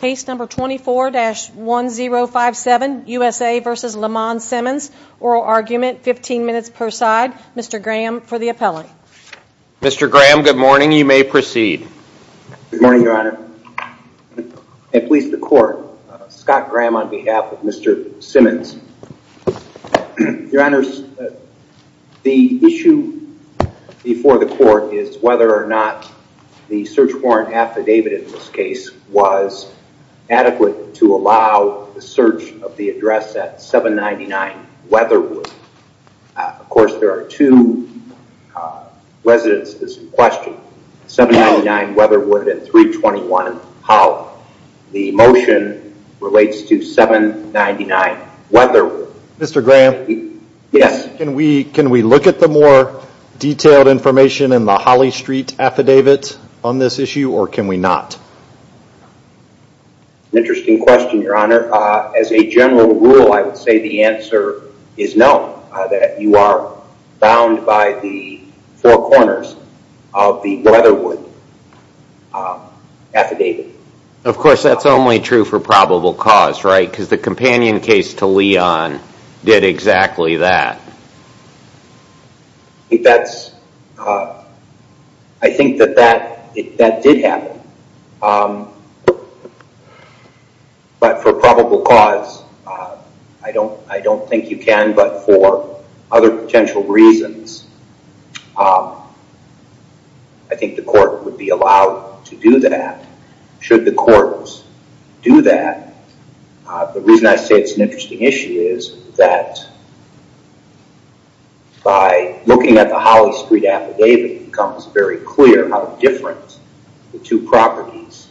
Case number 24-1057, USA v. Lamon Simmons, oral argument, 15 minutes per side. Mr. Graham for the appellate. Mr. Graham, good morning. You may proceed. Good morning, Your Honor. At least the court, Scott Graham on behalf of Mr. Simmons. Your Honors, the issue before the court is whether or not the search warrant affidavit in this case was adequate to allow the search of the address at 799 Weatherwood. Of course, there are two residences in question, 799 Weatherwood and 321 Howell. The motion relates to 799 Weatherwood. Mr. Graham, can we look at the more detailed information in the Holly Street affidavit on this issue or can we not? Interesting question, Your Honor. As a general rule, I would say the answer is no, that you are bound by the four corners of the Weatherwood affidavit. Of course, that's only true for probable cause, right? Because the companion case to Leon did exactly that. I think that that did happen, but for probable cause, I don't think you can, but for other The reason I say it's an interesting issue is that by looking at the Holly Street affidavit, it becomes very clear how different the two properties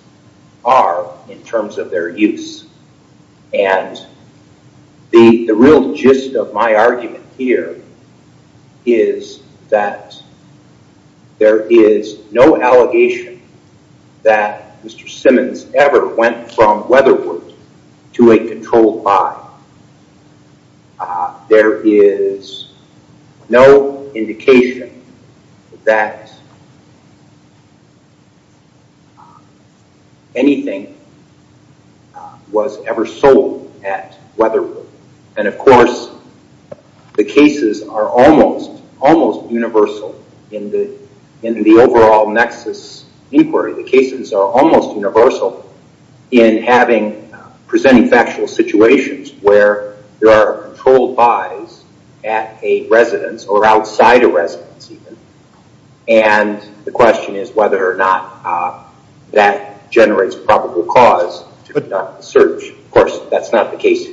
are in terms of their use. The real gist of my argument here is that there is no allegation that Mr. Simmons ever went from Weatherwood to a controlled buy. There is no indication that anything was ever sold at Weatherwood. Of course, the cases are almost universal in the overall nexus inquiry. The cases are almost universal in presenting factual situations where there are controlled buys at a residence or outside a residence. The question is whether or not that generates probable cause to conduct the search. Of course, that's not the case.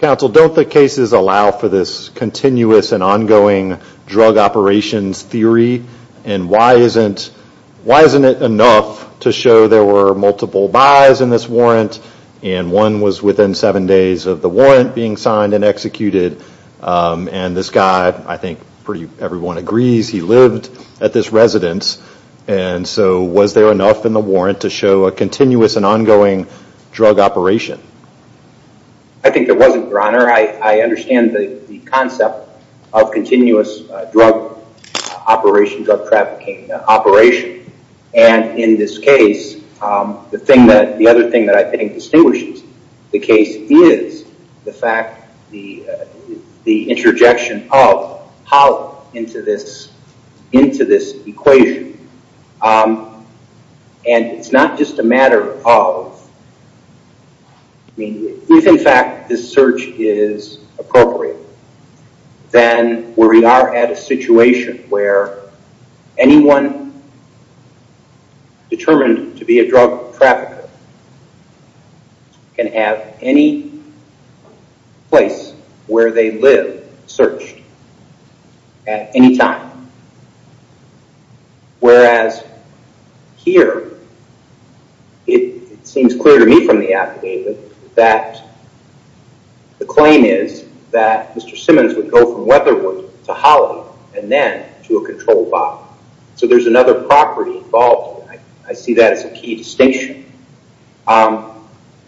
Counsel, don't the cases allow for this continuous and ongoing drug operations theory? Why isn't it enough to show there were multiple buys in this warrant and one was within seven days of the warrant being signed and executed? This guy, I think pretty everyone agrees, he lived at this residence. Was there enough in the warrant to show a continuous and ongoing drug operation? I think there wasn't, Your Honor. I understand the concept of continuous drug operation, drug trafficking operation. In this case, the other thing that I think distinguishes the case is the fact, the interjection of how into this equation. It's not just a matter of... If in fact this search is appropriate, then we are at a situation where anyone determined to be a drug trafficker can have any place where they live searched at any time. Whereas here, it seems clear to me from the affidavit that the claim is that Mr. Simmons would go from Weatherwood to Holly and then to a controlled buy. There's another property involved. I see that as a key distinction.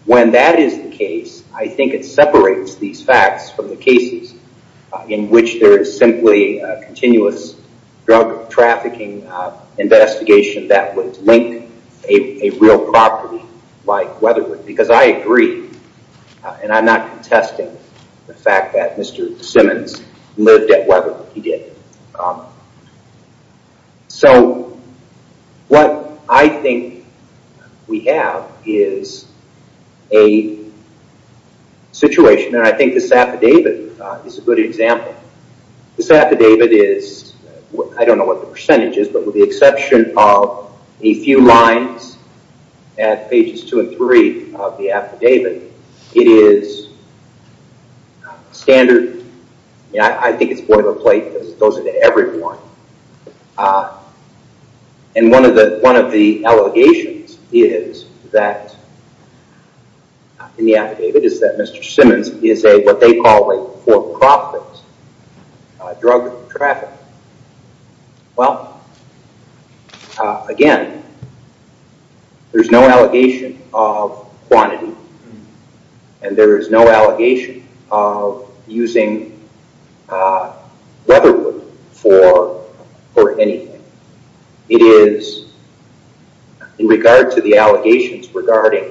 When that is the case, I think it separates these facts from the cases in which there is simply a continuous drug trafficking investigation that would link a real property like Weatherwood because I agree and I'm not contesting the fact that Mr. Simmons lived at Weatherwood. He did. What I think we have is a situation, and I think this affidavit is a good example. This affidavit is... I don't know what the percentage is, but with the exception of a two and three of the affidavit, it is standard... I think it's boilerplate because it goes into every one. One of the allegations is that in the affidavit is that Mr. Simmons is what they call a for-profit drug trafficker. Well, again, there's no allegation of quantity, and there is no allegation of using Weatherwood for anything. It is in regard to the allegations regarding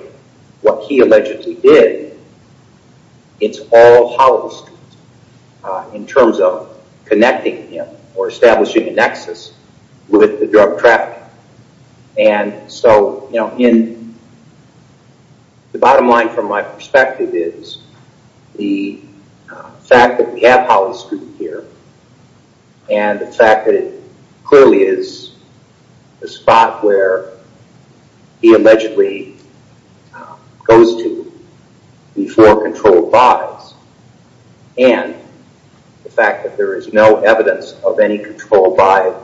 what he allegedly did, it's all hollow in terms of connecting him or establishing a nexus with the drug trafficking. The bottom line from my perspective is the fact that we have hollow scrutiny here and the affidavit clearly is the spot where he allegedly goes to before control buys, and the fact that there is no evidence of any control buy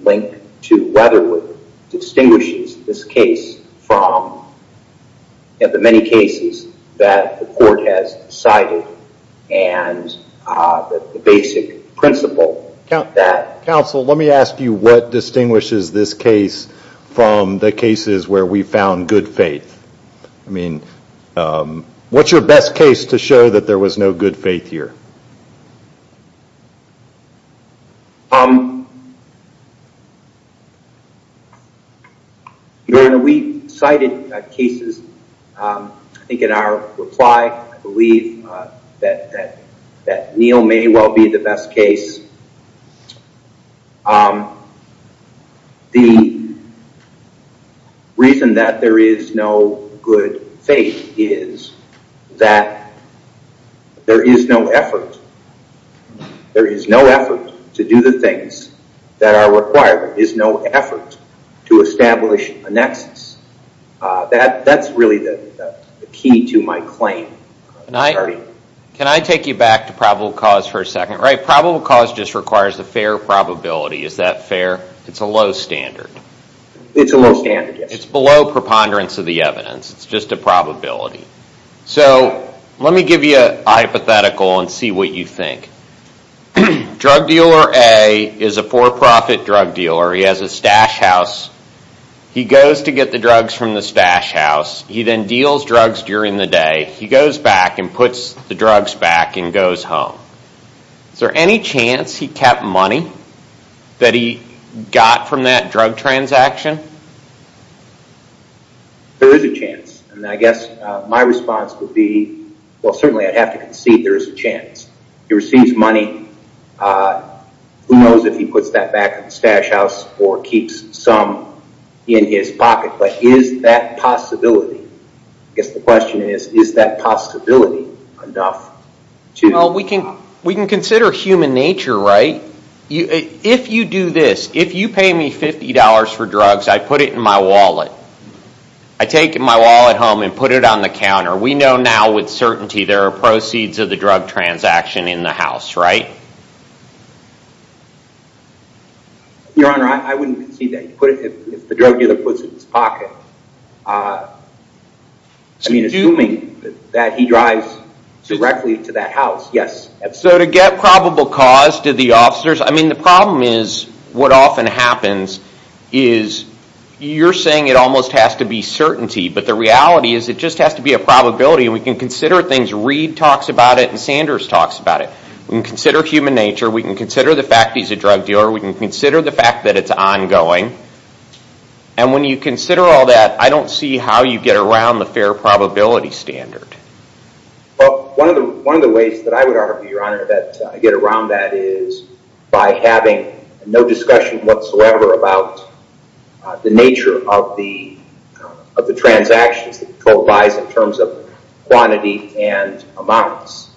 link to Weatherwood distinguishes this case from the many cases that the court has cited and the basic principle that... Counsel, let me ask you what distinguishes this case from the cases where we found good faith? I mean, what's your best case to show that there was no good faith here? Your Honor, we cited cases, I think in our reply, I believe that Neal may well be the best case. The reason that there is no good faith is that there is no effort. There is no effort to do the things that are required. There is no effort to establish a nexus. That's really the key to my claim. Can I take you back to probable cause for a second? Probable cause just requires a fair probability. Is that fair? It's a low standard. It's a low standard, yes. It's below preponderance of the evidence. It's just a probability. Let me give you a hypothetical and see what you think. Drug dealer A is a for-profit drug dealer. He has a stash house. He goes to get the drugs from the stash house. He then deals drugs during the day. He goes back and puts the drugs back and goes home. Is there any chance he kept money that he got from that drug transaction? There is a chance. I guess my response would be, well certainly I'd have to concede there is a chance. He receives money. Who knows if he puts that back in the stash house or keeps some in his pocket, but is that possibility? I guess the question is, is that possibility enough? We can consider human nature, right? If you do this, if you pay me $50 for drugs, I put it in my wallet. I take my wallet home and put it on the counter. We know now with certainty there are proceeds of the drug transaction in the house, right? Your Honor, I wouldn't concede that. If the drug dealer puts it in his pocket. Assuming that he drives directly to that house, yes. So to get probable cause to the officers, I mean the problem is what often happens is you're saying it almost has to be certainty, but the reality is it just has to be a probability. We can consider things. Reed talks about it and Sanders talks about it. We can consider human nature. We can consider the fact he's a drug dealer. We can consider the fact that it's ongoing. And when you consider all that, I don't see how you get around the fair probability standard. One of the ways that I would argue, Your Honor, that I get around that is by having no discussion whatsoever about the nature of the transactions that we totalize in terms of quantity and amounts.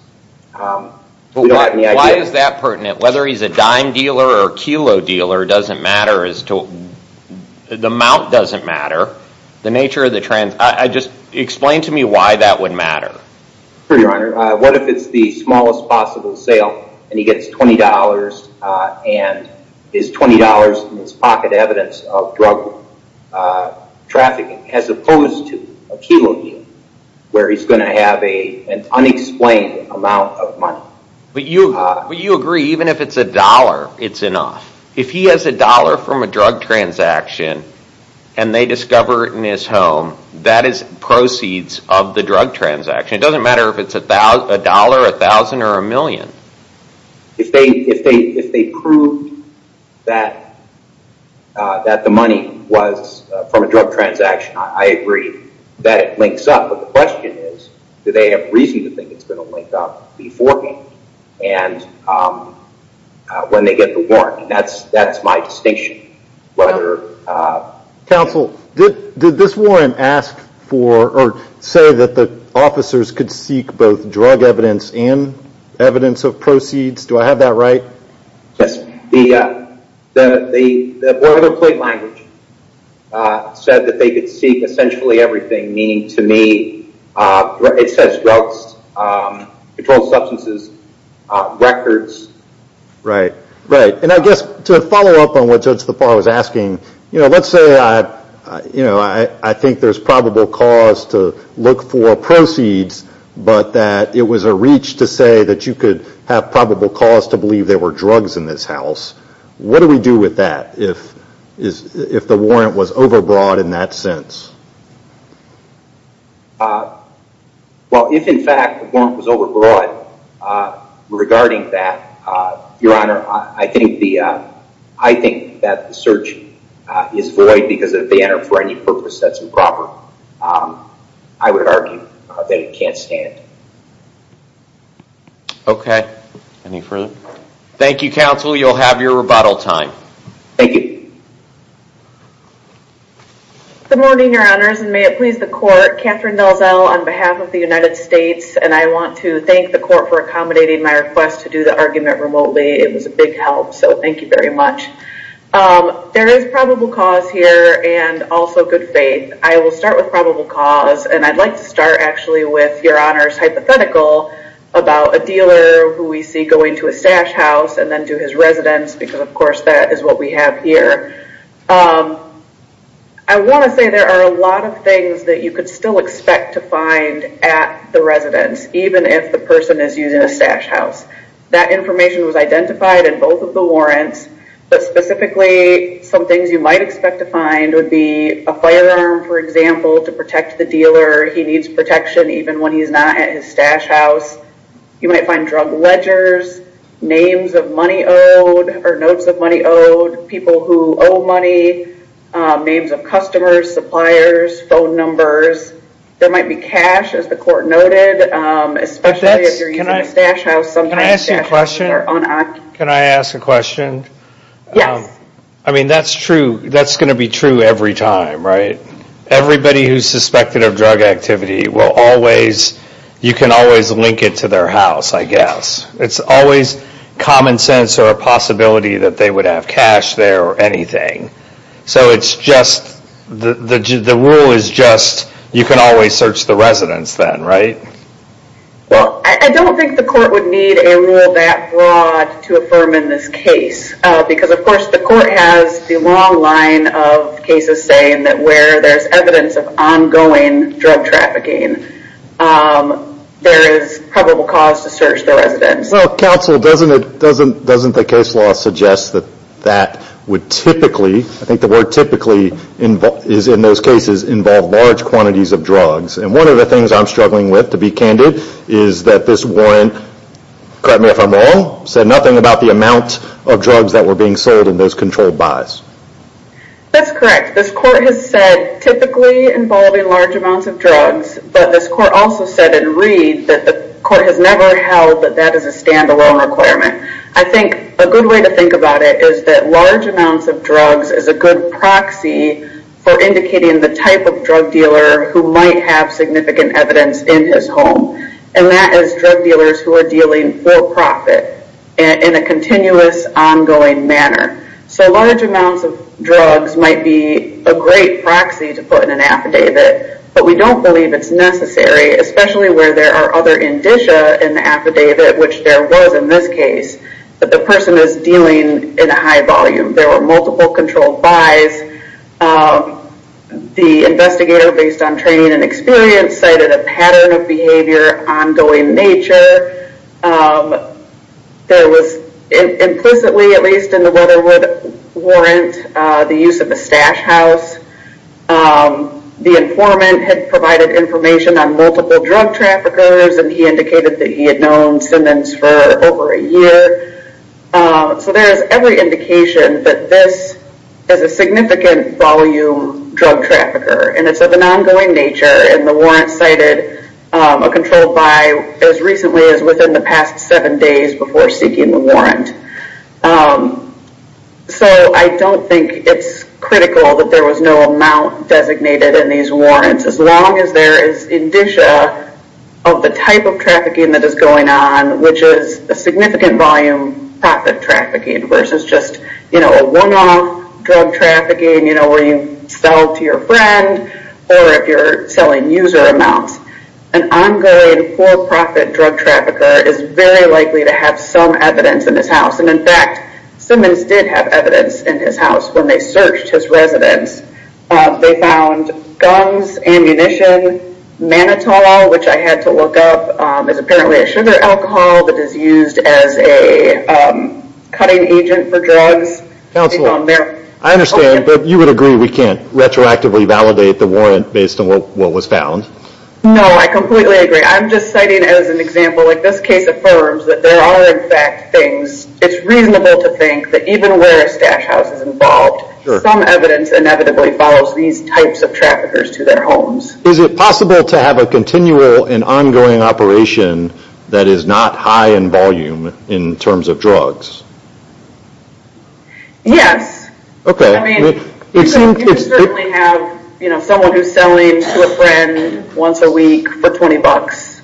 Why is that pertinent? Whether he's a dime dealer or a kilo dealer doesn't matter. The amount doesn't matter. Just explain to me why that would matter. Sure, Your Honor. What if it's the smallest possible sale and he gets $20 and his $20 is pocket evidence of drug trafficking as opposed to a kilo dealer where he's going to have an unexplained amount of money? But you agree even if it's a dollar, it's enough. If he has a dollar from a drug transaction and they discover it in his If they prove that the money was from a drug transaction, I agree that it links up. But the question is, do they have reason to think it's going to link up beforehand? When they get the warrant, that's my distinction. Counsel, did this warrant say that the officers could seek both drug evidence and evidence of proceeds? Do I have that right? Yes, Your Honor. The boilerplate language said that they could seek essentially everything, meaning to me, it says drugs, controlled substances, records. Right. And I guess to follow up on what Judge Lepar was asking, let's say I think there's probable cause to look for proceeds, but that it was a reach to say that you could have probable cause to believe there were drugs in this house. What do we do with that if the warrant was overbroad in that sense? Well, if in fact the warrant was overbroad regarding that, Your Honor, I think that the search is void because if they enter it for any purpose that's improper. I would argue that it can't stand. Okay. Any further? Thank you, Counsel. You'll have your rebuttal time. Thank you. Good morning, Your Honors, and may it please the Court. Kathryn Nelzel on behalf of the United States, and I want to thank the Court for accommodating my request to do the argument remotely. It was a big help, so thank you very much. There is probable cause here, and also good faith. I will start with probable cause, and I'd like to start actually with Your Honor's hypothetical about a dealer who we see going to a stash house and then to his residence, because of course that is what we have here. I want to say there are a lot of things that you could still expect to find at the residence, even if the person is using a stash house. That information was identified in both of the warrants, but specifically some things you might expect to find would be a firearm, for example, to protect the dealer. He needs protection even when he's not at his stash house. You might find drug ledgers, names of money owed or notes of money owed, people who owe money, names of customers, suppliers, phone numbers. There might be cash, as the Court noted, especially if you're using a stash house. Can I ask you a question? Can I ask a question? Yes. I mean, that's true. That's going to be true every time, right? Everybody who's suspected of drug activity will always, you can always link it to their house, I guess. It's always common sense or a possibility that they would have cash there or anything. So it's just, the rule is just, you can always search the residence then, right? Well, I don't think the Court would need a rule that broad to affirm in this case because, of course, the Court has the long line of cases saying that where there's evidence of ongoing drug trafficking, there is probable cause to search the residence. Well, Counsel, doesn't the case law suggest that that would typically, I think the word typically is in those cases, involve large quantities of drugs. And one of the things I'm struggling with, to be candid, is that this warrant, correct me if I'm wrong, said nothing about the amount of drugs that were being sold in those controlled buys. That's correct. This Court has said typically involving large amounts of drugs, but this Court also said in Reed that the Court has never held that that is a stand-alone requirement. I think a good way to think about it is that large amounts of drugs is a good proxy for indicating the type of drug dealer who might have significant evidence in his home, and that is drug dealers who are dealing for profit in a continuous, ongoing manner. So large amounts of drugs might be a great proxy to put in an affidavit, but we don't believe it's necessary, especially where there are other indicia in the affidavit, which there was in this case, that the person is dealing in a high volume. There were multiple controlled buys. The investigator, based on training and experience, cited a pattern of behavior, ongoing nature. There was implicitly, at least in the Weatherwood warrant, the use of a stash house. The informant had provided information on multiple drug traffickers, and he indicated that he had known Simmons for over a year. So there is every indication that this is a significant volume drug trafficker, and it's of an ongoing nature, and the warrant cited a controlled buy as recently as within the past seven days before seeking the warrant. So I don't think it's critical that there was no amount designated in these warrants, as long as there is indicia of the type of trafficking that is going on, which is a significant volume profit trafficking versus just a one-off drug trafficking where you sell to your friend, or if you're selling user amounts. An ongoing, for-profit drug trafficker is very likely to have some evidence in his house, and in fact, Simmons did have evidence in his house when they searched his residence. They found guns, ammunition, Manitola, which I had to look up, is apparently a sugar alcohol that is used as a cutting agent for drugs. I understand, but you would agree that we can't retroactively validate the warrant based on what was found? No, I completely agree. I'm just citing as an example that this case affirms that there are in fact things. It's reasonable to think that even where a stash house is involved, some evidence inevitably follows these types of traffickers to their homes. Is it possible to have a continual and ongoing operation that is not high in volume in terms of drugs? Yes, you can certainly have someone who is selling to a friend once a week for $20.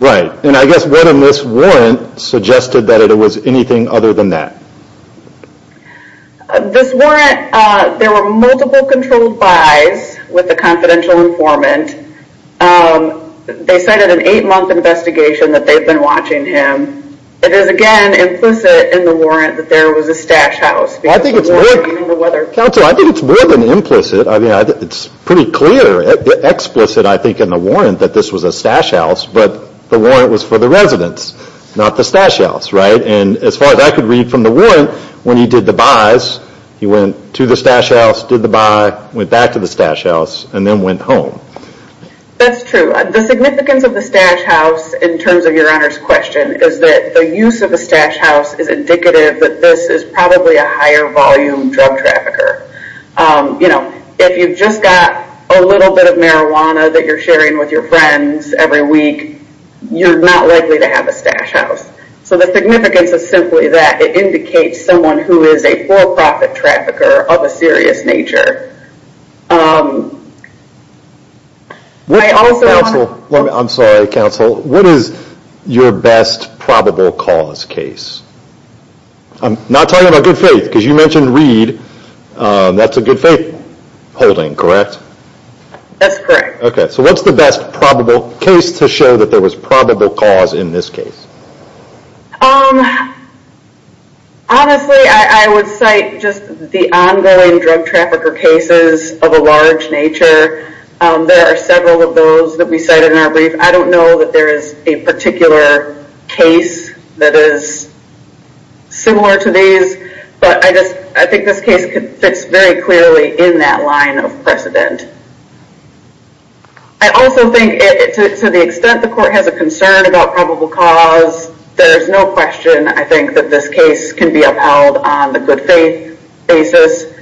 Right, and I guess whether this warrant suggested that it was anything other than that. This warrant, there were multiple controlled buys with the confidential informant. They cited an 8 month investigation that they've been watching him. It is again implicit in the warrant that there was a stash house. I think it's more than implicit. It's pretty clear, explicit I think in the warrant that this was a stash house, but the warrant was for the residents, not the stash house. As far as I could read from the warrant, when he did the buys, he went to the stash house, did the buy, went back to the stash house, and then went home. That's true. The significance of the stash house in terms of your Honor's question is that the use of a stash house is indicative that this is probably a higher volume drug trafficker. If you've just got a little bit of marijuana that you're sharing with your friends every week, you're not likely to have a stash house. The significance is simply that it indicates someone who is a for-profit trafficker of a serious nature. I'm sorry counsel, what is your best probable cause case? I'm not talking about good faith, because you mentioned Reed. That's a good faith holding, correct? That's correct. So what's the best probable case to show that there was probable cause in this case? Honestly, I would cite just the ongoing drug trafficker cases of a large nature. There are several of those that we cited in our brief. I don't know that there is a particular case that is similar to these, but I think this case fits very clearly in that line of precedent. I also think to the extent the court has a concern about probable cause, there is no question I think that this case can be upheld on the good faith basis.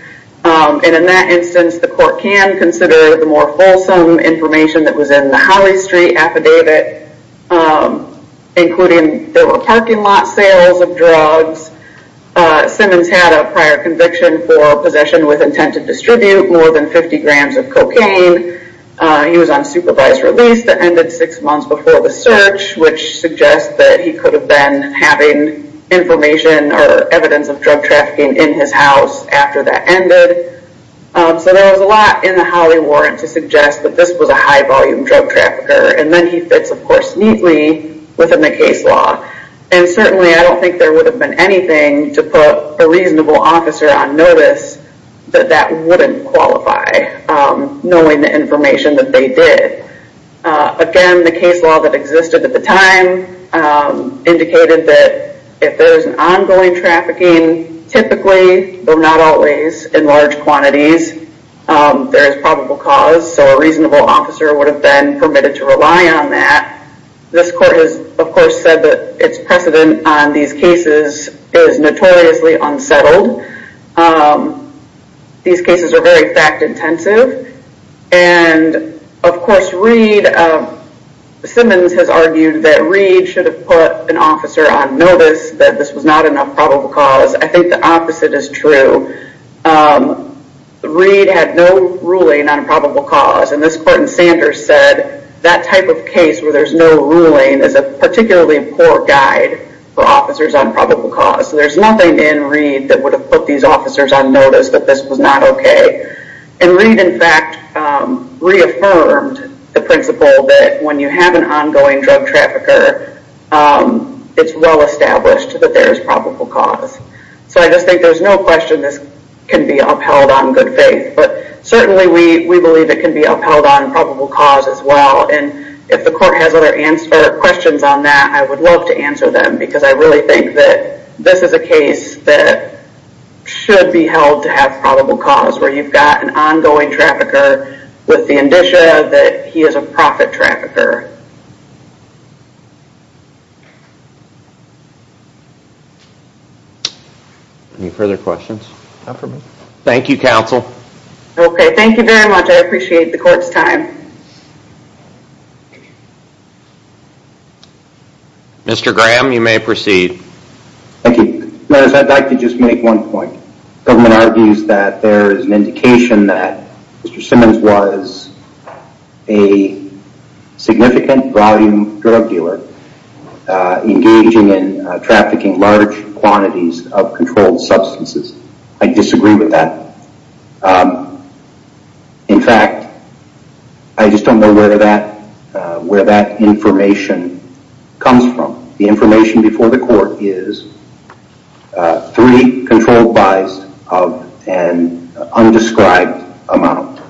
In that instance, the court can consider the more fulsome information that was in the Holly Street affidavit, including there were parking lot sales of drugs. Simmons had a prior conviction for possession with intent to distribute more than 50 grams of cocaine. He was on supervised release that ended six months before the search, which suggests that he could have been having information or evidence of drug trafficking in his house after that ended. So there was a lot in the Holly warrant to suggest that this was a high volume drug trafficker, and then he fits of course neatly within the case law. Certainly, I don't think there would have been anything to put a reasonable officer on notice that that wouldn't qualify, knowing the information that they did. Again, the case law that existed at the time indicated that if there is ongoing trafficking, typically, but not always, in large quantities, there is probable cause. So a reasonable officer would have been permitted to rely on that. This court has of course said that its precedent on these cases is notoriously unsettled. These cases are very fact intensive, and of course, Simmons has argued that Reed should have put an officer on notice that this was not a probable cause. I think the opposite is true. Reed had no ruling on probable cause, and this court in Sanders said that type of case where there's no ruling is a particularly poor guide for officers on probable cause. So there's nothing in Reed that would have put these officers on notice that this was not okay. And Reed, in fact, reaffirmed the principle that when you have an ongoing drug trafficker, it's well established that there is probable cause. So I just think there's no question this can be upheld on good faith, but certainly we believe it can be upheld on probable cause as well. And if the court has other questions on that, I would love to answer them, because I really think that this is a case that should be held to have probable cause, where you've got an ongoing trafficker with the indicia that he is a profit trafficker. Any further questions? Thank you, counsel. Okay, thank you very much. I appreciate the court's time. Mr. Graham, you may proceed. Thank you. Notice I'd like to just make one point. The government argues that there is an indication that Mr. Simmons was a significant volume drug dealer, engaging in trafficking large quantities of controlled substances. I disagree with that. In fact, I just don't know where that information comes from. The information before the court is three controlled buys of an undescribed amount.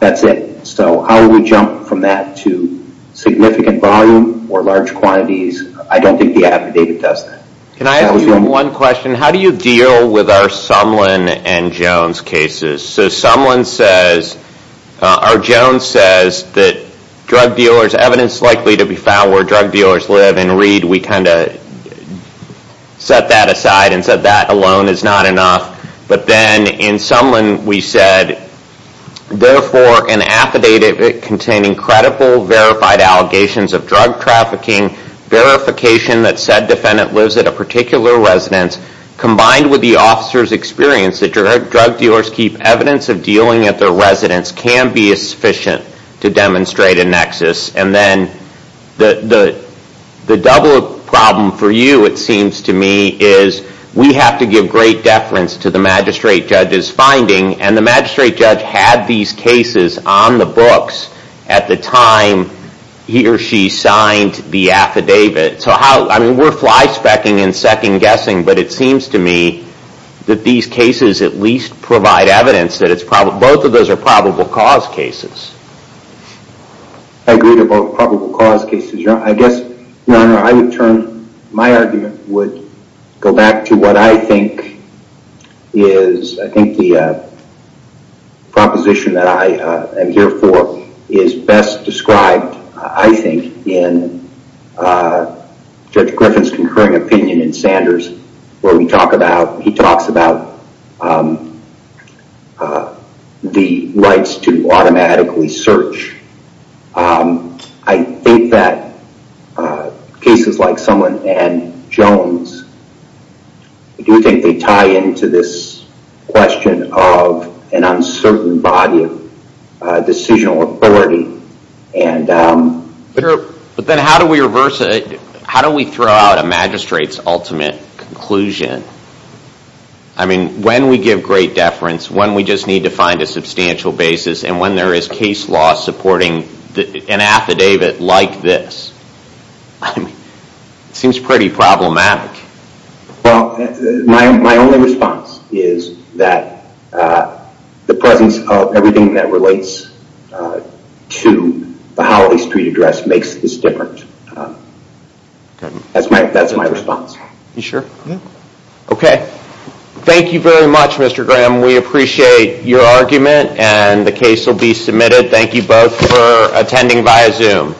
That's it. So how do we jump from that to significant volume or large quantities? I don't think the affidavit does that. Can I ask you one question? How do you deal with our Sumlin and Jones cases? So our Jones says that drug dealers, evidence likely to be found where drug dealers live and read. We tend to set that aside and said that alone is not enough. But then in Sumlin we said, therefore an affidavit containing credible, verified allegations of drug trafficking, verification that said defendant lives at a particular residence, combined with the officer's experience that drug dealers keep evidence of dealing at their residence, can be sufficient to demonstrate a nexus. And then the double problem for you, it seems to me, is we have to give great deference to the magistrate judge's finding. And the magistrate judge had these cases on the books at the time he or she signed the affidavit. So we're fly-specking and second-guessing, but it seems to me that these cases at least provide evidence. Both of those are probable cause cases. I agree to both probable cause cases. Your Honor, I would turn, my argument would go back to what I think is, I think the proposition that I am here for is best described, I think, in Judge Griffin's concurring opinion in Sanders where we talk about, he talks about the rights to automatically search. I think that cases like someone and Jones, I do think they tie into this question of an uncertain body of decisional authority. But then how do we reverse it? How do we throw out a magistrate's ultimate conclusion? I mean, when we give great deference, when we just need to find a substantial basis, and when there is case law supporting an affidavit like this, I mean, it seems pretty problematic. Well, my only response is that the presence of everything that relates to the Holiday Street Address makes this different. That's my response. You sure? Okay. Thank you very much, Mr. Graham. We appreciate your argument and the case will be submitted. Thank you both for attending via Zoom.